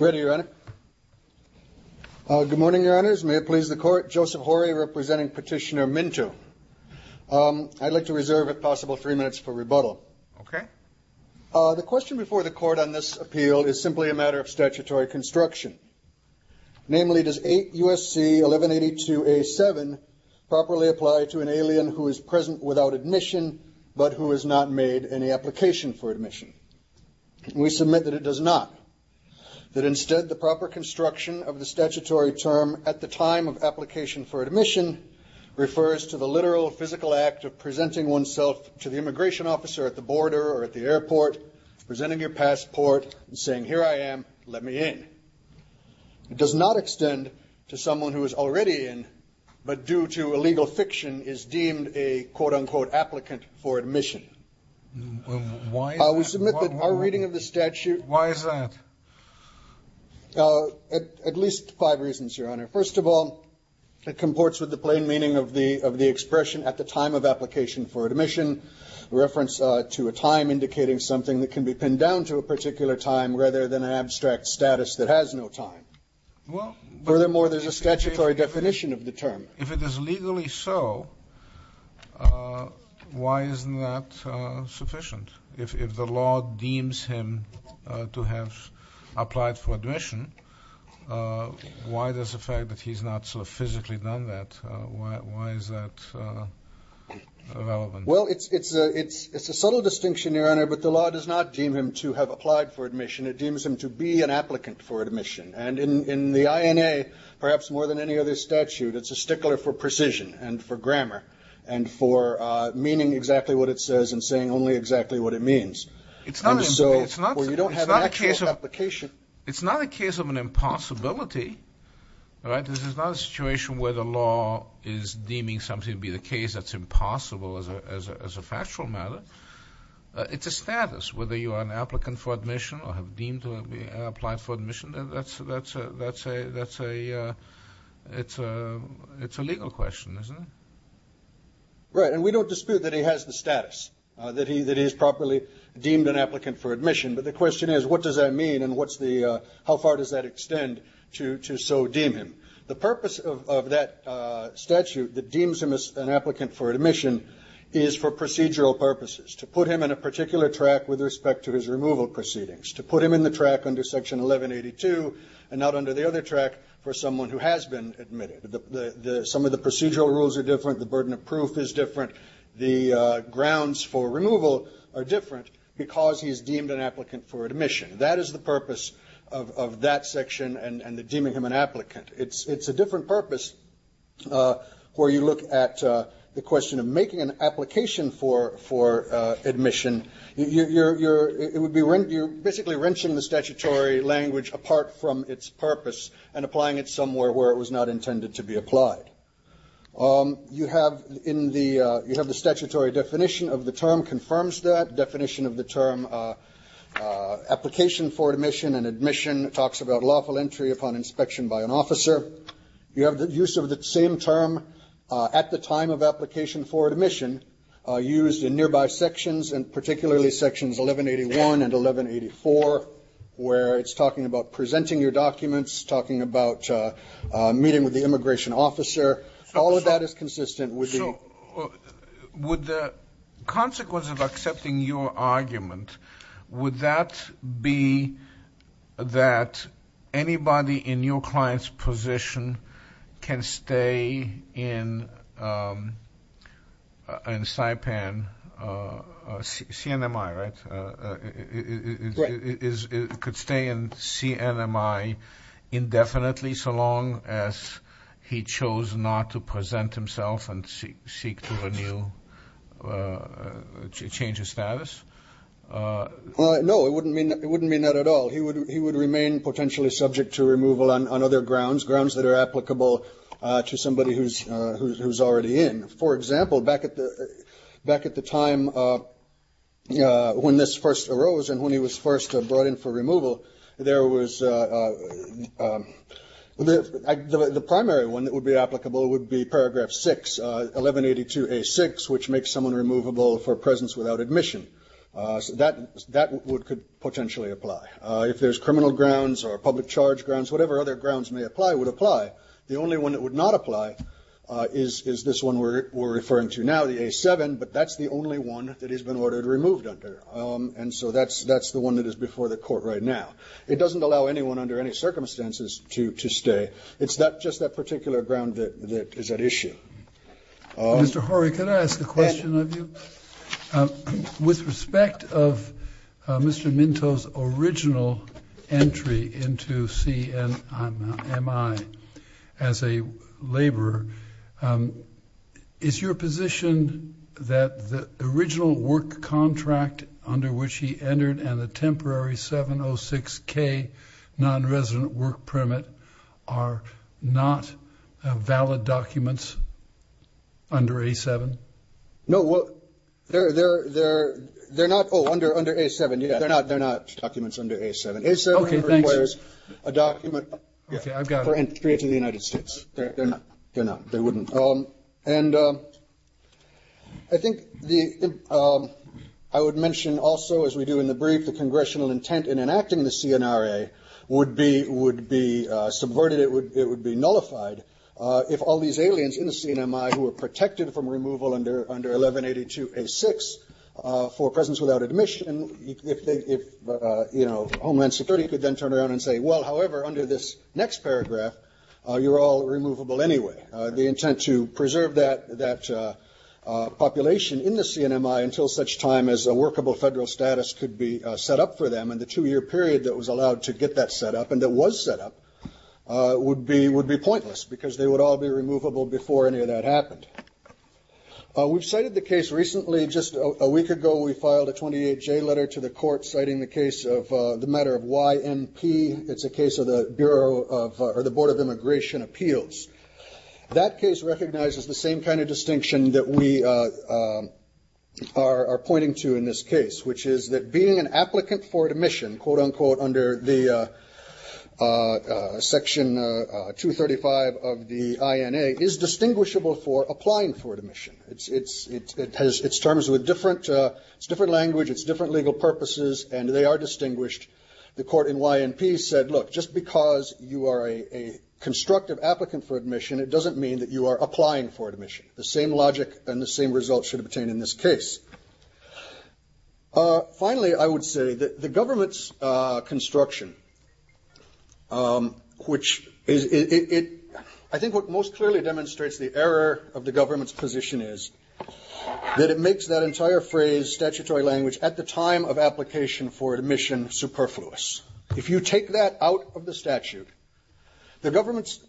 Ready, Your Honor. Good morning, Your Honors. May it please the Court, Joseph Horry representing Petitioner Minto. I'd like to reserve if possible three minutes for rebuttal. Okay. The question before the Court on this appeal is simply a matter of statutory construction. Namely, does 8 U.S.C. 1182A7 properly apply to an alien who is present without admission but who has not made any application for admission? We submit that it does not. That instead, the proper construction of the statutory term at the time of application for admission refers to the literal physical act of presenting oneself to the immigration officer at the border or at the airport, presenting your passport and saying, here I am, let me in. It does not extend to someone who is already in, but due to illegal fiction is deemed a quote, unquote, applicant for admission. Why is that? We submit that our reading of the statute. Why is that? At least five reasons, Your Honor. First of all, it comports with the plain meaning of the expression at the time of application for admission, reference to a time indicating something that can be pinned down to a particular time rather than an abstract status that has no time. Furthermore, there's a statutory If it is legally so, why isn't that sufficient? If the law deems him to have applied for admission, why does the fact that he's not physically done that, why is that relevant? Well, it's a subtle distinction, Your Honor, but the law does not deem him to have applied for admission. It deems him to be an applicant for admission. And in the INA, perhaps more than any other statute, it's a stickler for precision and for grammar and for meaning exactly what it says and saying only exactly what it means. It's not a case of an impossibility, right? This is not a situation where the law is deeming something to be the case that's impossible as a factual matter. It's a status, whether you are an applicant for admission or have deemed to have applied for admission. It's a legal question, isn't it? Right, and we don't dispute that he has the status, that he is properly deemed an applicant for admission. But the question is, what does that mean and how far does that extend to so deem him? The purpose of that statute that deems him as an applicant for admission is for procedural purposes, to put him in a particular track with respect to his removal proceedings. To put him in the track under Section 1182 and not under the other track for someone who has been admitted. Some of the procedural rules are different, the burden of proof is different, the grounds for removal are different because he is deemed an applicant for admission. That is the purpose of that section and deeming him an applicant. It's a different purpose where you look at the question of making an application for admission. You're basically wrenching the statutory language apart from its purpose and applying it somewhere where it was not intended to be applied. You have the statutory definition of the term confirms that definition of the term application for admission and admission talks about lawful entry upon inspection by an officer. You have the use of the same term at the time of application for admission used in nearby sections and particularly sections 1181 and 1184 where it's talking about presenting your documents, talking about meeting with the immigration officer. All of that is consistent with the... So, would the consequence of accepting your argument, would that be that anybody in your client's position can stay in the position in Saipan, CNMI, right? It could stay in CNMI indefinitely so long as he chose not to present himself and seek to renew, change his status? No, it wouldn't mean that at all. He would remain potentially subject to removal on other grounds, grounds that are applicable to somebody who's already in. For example, back at the time when this first arose and when he was first brought in for removal, there was... The primary one that would be applicable would be paragraph 6, 1182A6, which makes someone removable for presence without admission. That could potentially apply. If there's criminal grounds or public charge grounds, whatever other grounds may apply would apply. The only one that would not apply is this one we're referring to now, the A7, but that's the only one that has been ordered removed under. So, that's the one that is before the court right now. It doesn't allow anyone under any circumstances to stay. It's just that particular ground that is at issue. Mr. Horry, can I ask a question of you? With respect of Mr. Minto's original entry into CMI as a laborer, is your position that the original work contract under which he entered and the temporary 706K non-resident work permit are not valid documents under A7? No, well, they're not... Oh, under A7, yeah. They're not documents under A7. A7 requires a document for entry into the United States. They're not. They're not. They wouldn't. And I think I would mention also, as we do in the brief, the congressional intent in enacting the CNRA would be subverted. It would be nullified if all these aliens in the CNMI who were protected from removal under 1182A6 for presence without admission, if Homeland Security could then turn around and say, well, however, under this next paragraph, you're all removable anyway. The intent to preserve that population in the CNMI until such time as a workable federal status could be set up for them in the two-year period that was allowed to get that set up, and that was set up, would be pointless because they would all be removable before any of that happened. We've cited the case recently. Just a week ago, we filed a 28J letter to the court citing the case of the matter of YMP. It's a case of the Bureau of, or the Board of Immigration Appeals. That case recognizes the same kind of distinction that we are pointing to in this case, which is that being an applicant for admission, quote-unquote, under the Section 235 of the INA, is distinguishable for applying for admission. It has its terms with different language, its different legal purposes, and they are distinguished. The court in YMP said, look, just because you are a constructive applicant for admission, it doesn't mean that you are applying for admission. The same logic and the same result should obtain in this case. Finally, I would say that the government's construction, which is, it, I think what most clearly demonstrates the error of the government's position is that it makes that entire phrase statutory language at the time of application for admission superfluous. If you take that out of the statute, the government's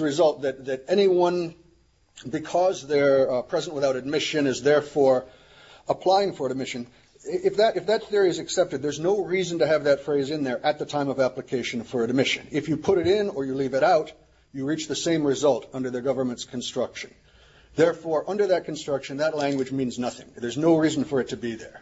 result that anyone, because they are present without admission is therefore applying for admission, if that theory is accepted, there is no reason to have that phrase in there at the time of application for admission. If you put it in or you leave it out, you reach the same result under the government's construction. Therefore, under that construction, that language means nothing. There is no reason for it to be there.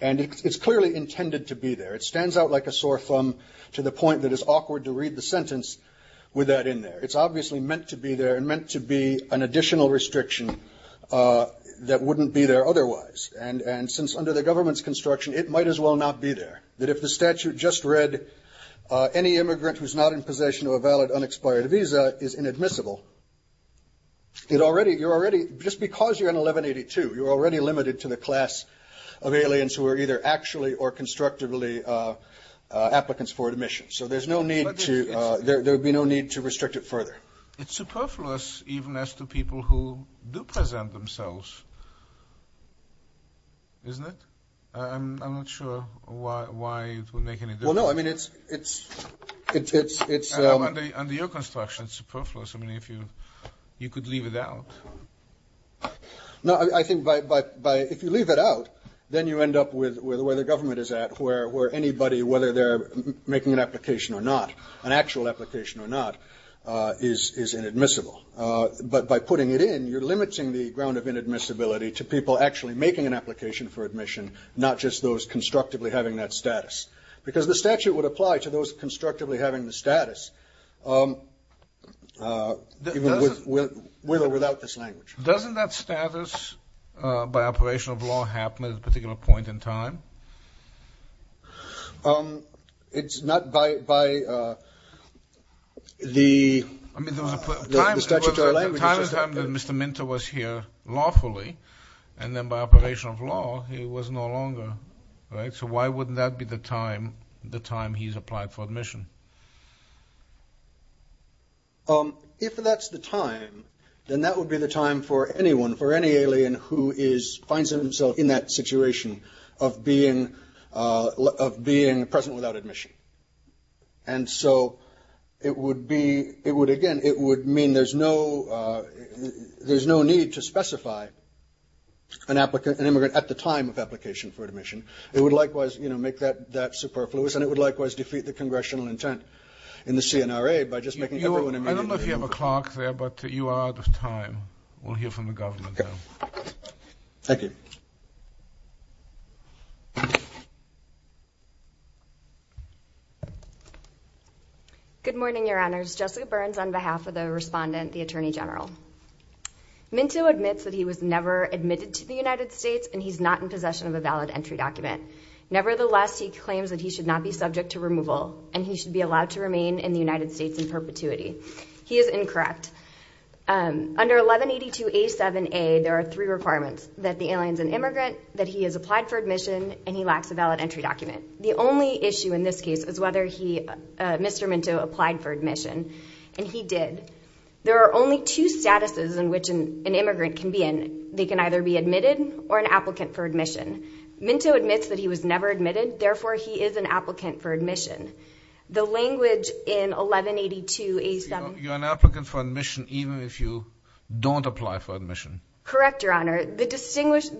And it's clearly intended to be there. It stands out like a sore thumb to the point that it's awkward to read the sentence with that in there. It's obviously meant to be there and meant to be an additional restriction that wouldn't be there otherwise. And since under the government's construction, it might as well not be there. That if the statute just read, any immigrant who is not in possession of a valid unexpired visa is inadmissible, it already, you're already, just because you're in 1182, you're already limited to the class of aliens who are either actually or constructively applicants for admission. So there's no need to, there would be no need to restrict it further. It's superfluous even as to people who do present themselves, isn't it? I'm not sure why it would make any difference. Well, no, I mean, it's, it's, it's, it's, it's... I mean, if you, you could leave it out. No, I think by, by, by, if you leave it out, then you end up with, with where the government is at, where, where anybody, whether they're making an application or not, an actual application or not is, is inadmissible. But by putting it in, you're limiting the ground of inadmissibility to people actually making an application for admission, not just those constructively having that status. Because the statute would apply to those constructively having the status, even with, with, with or without this language. Doesn't that status, by operation of law, happen at a particular point in time? It's not by, by the, the statutory language is just that. I mean, there was a time, there was a time, there was a time that Mr. Minter was here and that would be the time, the time he's applied for admission. If that's the time, then that would be the time for anyone, for any alien who is, finds himself in that situation of being, of being present without admission. And so it would be, it would, again, it would mean there's no, there's no need to specify an applicant, an immigrant, at the time of application for admission. It would likewise, you know, make that, that superfluous and it would likewise defeat the congressional intent in the CNRA by just making everyone admitted to the university. I don't know if you have a clerk there, but you are out of time. We'll hear from the government now. Okay. Thank you. Good morning, Your Honors. Jessica Burns on behalf of the respondent, the Attorney General. Minter admits that he was never admitted to the United States and he's not in possession of a valid entry document. Nevertheless, he claims that he should not be subject to removal and he should be allowed to remain in the United States in perpetuity. He is incorrect. Under 1182A7A, there are three requirements, that the alien's an immigrant, that he has applied for admission, and he lacks a valid entry document. The only issue in this case is whether he, Mr. Minter, applied for admission, and he did. There are only two statuses in which an immigrant can be in. They can either be admitted or an applicant for admission. Minter admits that he was never admitted. Therefore, he is an applicant for admission. The language in 1182A7A... You're an applicant for admission even if you don't apply for admission. Correct, Your Honor. The distinction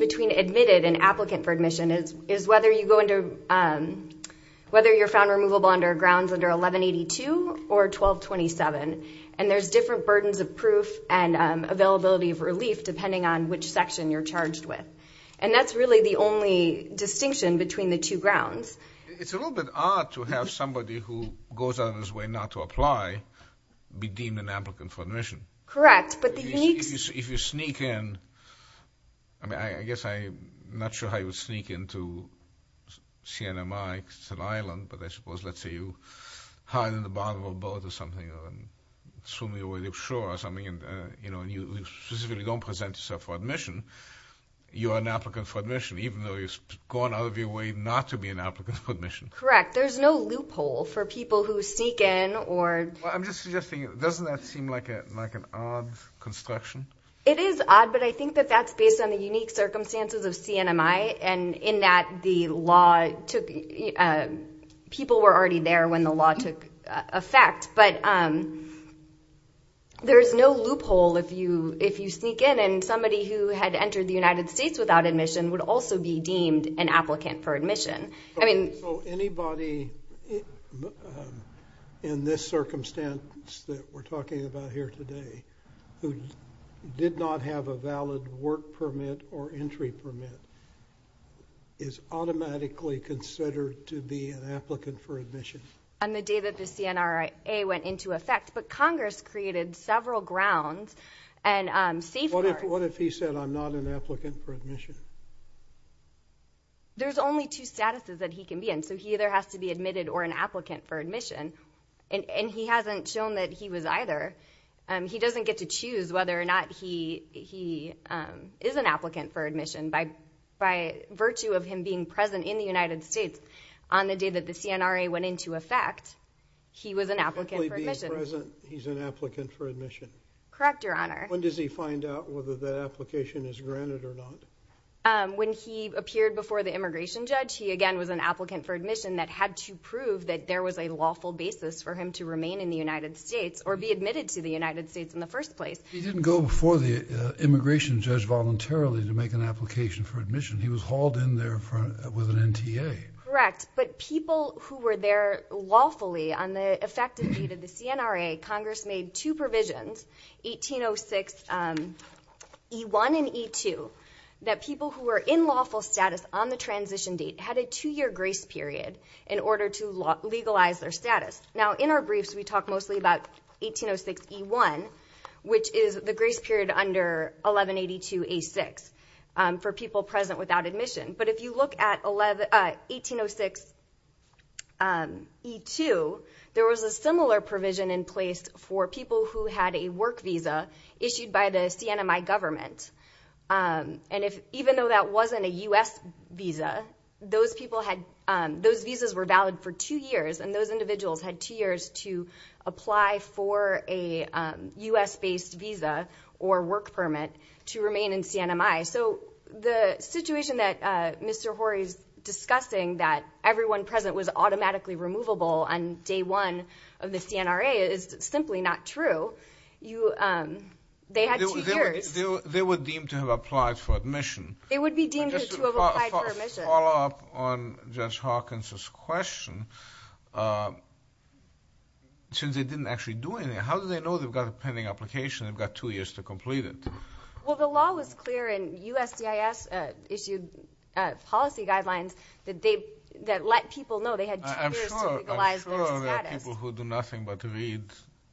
between admitted and applicant for admission is whether you go into... whether you're found removable under grounds under 1182 or 1227. And there's different burdens of proof and availability of relief depending on which section you're charged with. And that's really the only distinction between the two grounds. It's a little bit odd to have somebody who goes out of his way not to apply be deemed an applicant for admission. Correct, but the unique... If you sneak in, I mean, I guess I'm not sure how you would sneak in to CNMI, because it's an island, but I suppose, let's say, you hide in the bottom of a boat or something, or swim away to the shore or something, and you specifically don't present yourself for admission, you're an applicant for admission, even though you've gone out of your way not to be an applicant for admission. Correct. There's no loophole for people who sneak in or... I'm just suggesting, doesn't that seem like an odd construction? It is odd, but I think that that's based on the unique circumstances of CNMI, and in that the law took... people were already there when the law took effect. But there's no loophole if you sneak in, and somebody who had entered the United States without admission would also be deemed an applicant for admission. Okay, so anybody in this circumstance that we're talking about here today who did not have a valid work permit or entry permit is automatically considered to be an applicant for admission? On the day that the CNRA went into effect, but Congress created several grounds and safeguards... What if he said, I'm not an applicant for admission? There's only two statuses that he can be in, so he either has to be admitted or an applicant for admission, and he hasn't shown that he was either. He doesn't get to choose whether or not he is an applicant for admission. By virtue of him being present in the United States on the day that the CNRA went into effect, he was an applicant for admission. If he's present, he's an applicant for admission? Correct, Your Honor. When does he find out whether that application is granted or not? When he appeared before the immigration judge, he again was an applicant for admission that had to prove that there was a lawful basis for him to remain in the United States or be admitted to the United States in the first place. He didn't go before the immigration judge voluntarily to make an application for admission. He was hauled in there with an NTA. Correct, but people who were there lawfully on the effective date of the CNRA, Congress made two provisions, 1806E1 and E2, that people who were in lawful status on the transition date had a two-year grace period in order to legalize their status. In our briefs, we talk mostly about 1806E1, which is the grace period under 1182A6 for people present without admission. If you look at 1806E2, there was a similar provision in place for people who had a work visa issued by the CNMI government. Even though that wasn't a U.S. visa, those visas were valid for two years, and those individuals had two years to apply for a U.S.-based visa or work permit to remain in CNMI. The situation that Mr. Horry is discussing, that everyone present was automatically removable on day one of the CNRA, is simply not true. They had two years. They were deemed to have applied for admission. They would be deemed to have applied for admission. Just to follow up on Judge Hawkins' question, since they didn't actually do anything, how do they know they've got a pending application, they've got two years to complete it? Well, the law was clear, and USCIS issued policy guidelines that let people know they had two years to legalize their status. I'm sure there are people who do nothing but read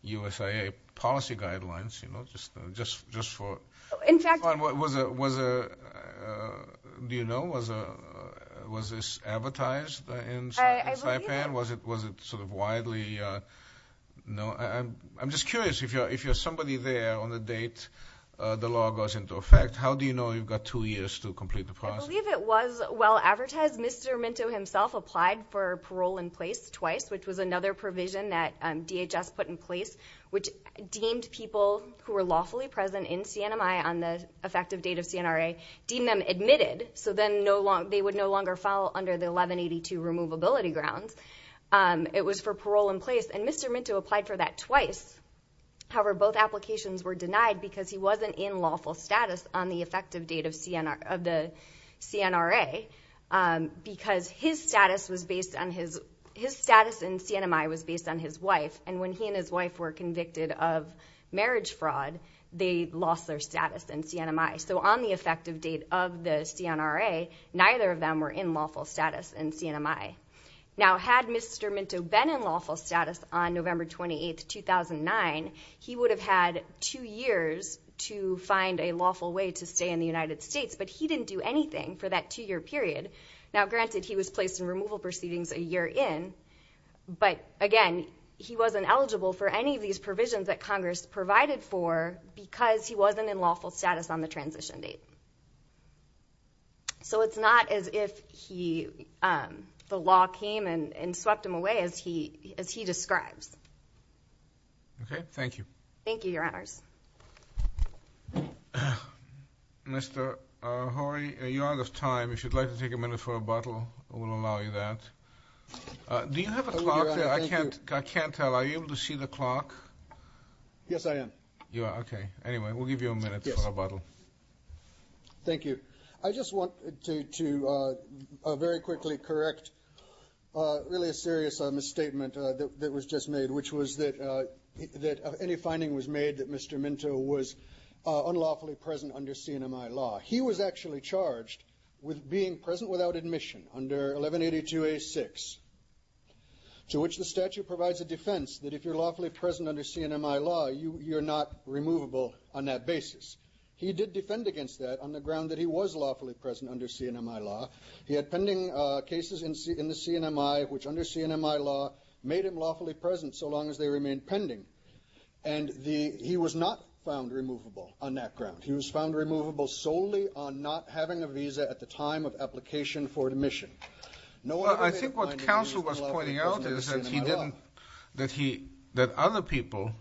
USIA policy guidelines, you know, just for fun. Do you know, was this advertised in Saipan? I believe it. Was it widely known? I'm just curious. If you're somebody there on the date the law goes into effect, how do you know you've got two years to complete the process? I believe it was well advertised. Mr. Minto himself applied for parole in place twice, which was another provision that DHS put in place, which deemed people who were lawfully present in CNMI on the effective date of CNRA, deemed them admitted, so then they would no longer fall under the 1182 Removability Grounds. It was for parole in place, and Mr. Minto applied for that twice. However, both applications were denied because he wasn't in lawful status on the effective date of the CNRA, because his status in CNMI was based on his wife, and when he and his wife were convicted of marriage fraud, they lost their status in CNMI. So on the effective date of the CNRA, neither of them were in lawful status in CNMI. Now, had Mr. Minto been in lawful status on November 28, 2009, he would have had two years to find a lawful way to stay in the United States, but he didn't do anything for that two-year period. Now, granted, he was placed in removal proceedings a year in, but, again, he wasn't eligible for any of these provisions that Congress provided for because he wasn't in lawful status on the transition date. So it's not as if the law came and swept him away as he describes. Okay, thank you. Thank you, Your Honors. Mr. Horry, you're out of time. If you'd like to take a minute for a bottle, we'll allow you that. Do you have a clock? I can't tell. Are you able to see the clock? Yes, I am. You are? Okay. Anyway, we'll give you a minute for a bottle. Yes. Thank you. I just want to very quickly correct really a serious misstatement that was just made, which was that any finding was made that Mr. Minto was unlawfully present under CNMI law. He was actually charged with being present without admission under 1182A6, to which the statute provides a defense that if you're lawfully present under CNMI law, you're not removable on that basis. He did defend against that on the ground that he was lawfully present under CNMI law. He had pending cases in the CNMI which, under CNMI law, made him lawfully present so long as they remained pending, and he was not found removable on that ground. He was found removable solely on not having a visa at the time of application for admission. I think what counsel was pointing out is that he didn't, that he, that other people,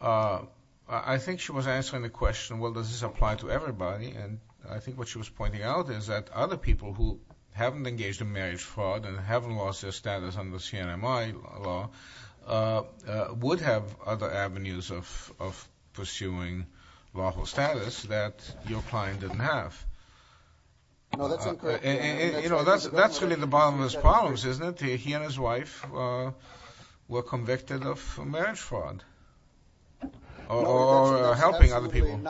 I think she was answering the question, well, does this apply to everybody? And I think what she was pointing out is that other people who haven't engaged in marriage fraud and haven't lost their status under CNMI law would have other avenues of pursuing lawful status that your client didn't have. No, that's incorrect. You know, that's really the bottom of his problems, isn't it? He and his wife were convicted of marriage fraud or helping other people.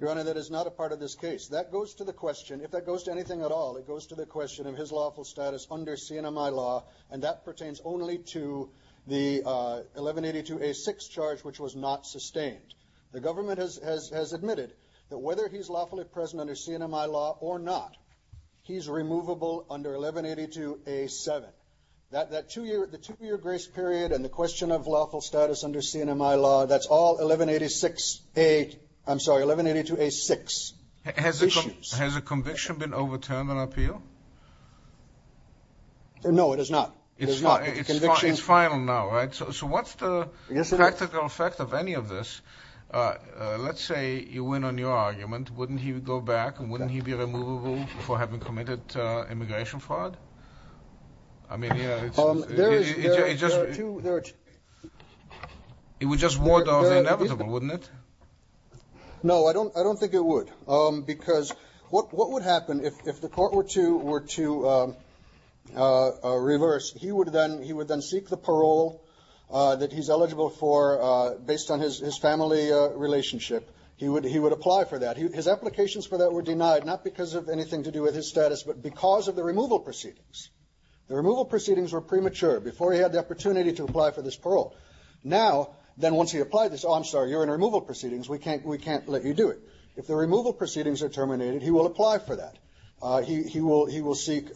Your Honor, that is not a part of this case. That goes to the question, if that goes to anything at all, it goes to the question of his lawful status under CNMI law, and that pertains only to the 1182A6 charge which was not sustained. The government has admitted that whether he's lawfully present under CNMI law or not, he's removable under 1182A7. That two-year grace period and the question of lawful status under CNMI law, that's all 1186A, I'm sorry, 1182A6 issues. Has a conviction been overturned on appeal? No, it has not. It's final now, right? So what's the practical effect of any of this? Let's say you win on your argument. Wouldn't he go back and wouldn't he be removable for having committed immigration fraud? It would just ward off the inevitable, wouldn't it? No, I don't think it would because what would happen if the court were to reverse, he would then seek the parole that he's eligible for based on his family relationship. He would apply for that. His applications for that were denied, not because of anything to do with his status, but because of the removal proceedings. The removal proceedings were premature before he had the opportunity to apply for this parole. Now, then once he applied this, oh, I'm sorry, you're in removal proceedings. We can't let you do it. If the removal proceedings are terminated, he will apply for that. He will seek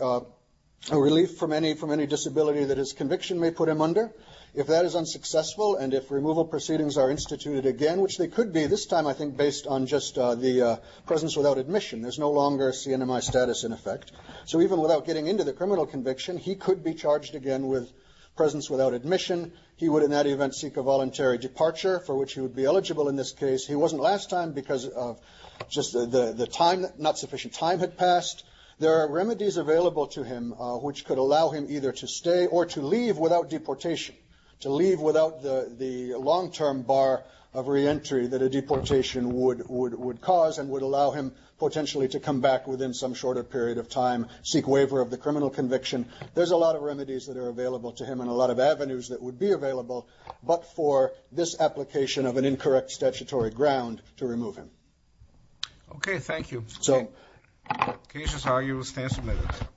relief from any disability that his conviction may put him under. If that is unsuccessful and if removal proceedings are instituted again, which they could be this time I think based on just the presence without admission, there's no longer a CNMI status in effect. So even without getting into the criminal conviction, he could be charged again with presence without admission. He would in that event seek a voluntary departure for which he would be eligible in this case. He wasn't last time because of just the time, not sufficient time had passed. There are remedies available to him which could allow him either to stay or to leave without deportation, to leave without the long-term bar of reentry that a deportation would cause and would allow him potentially to come back within some shorter period of time, seek waiver of the criminal conviction. There's a lot of remedies that are available to him and a lot of avenues that would be available, but for this application of an incorrect statutory ground to remove him. Okay, thank you. So... Can you just argue a stance on that?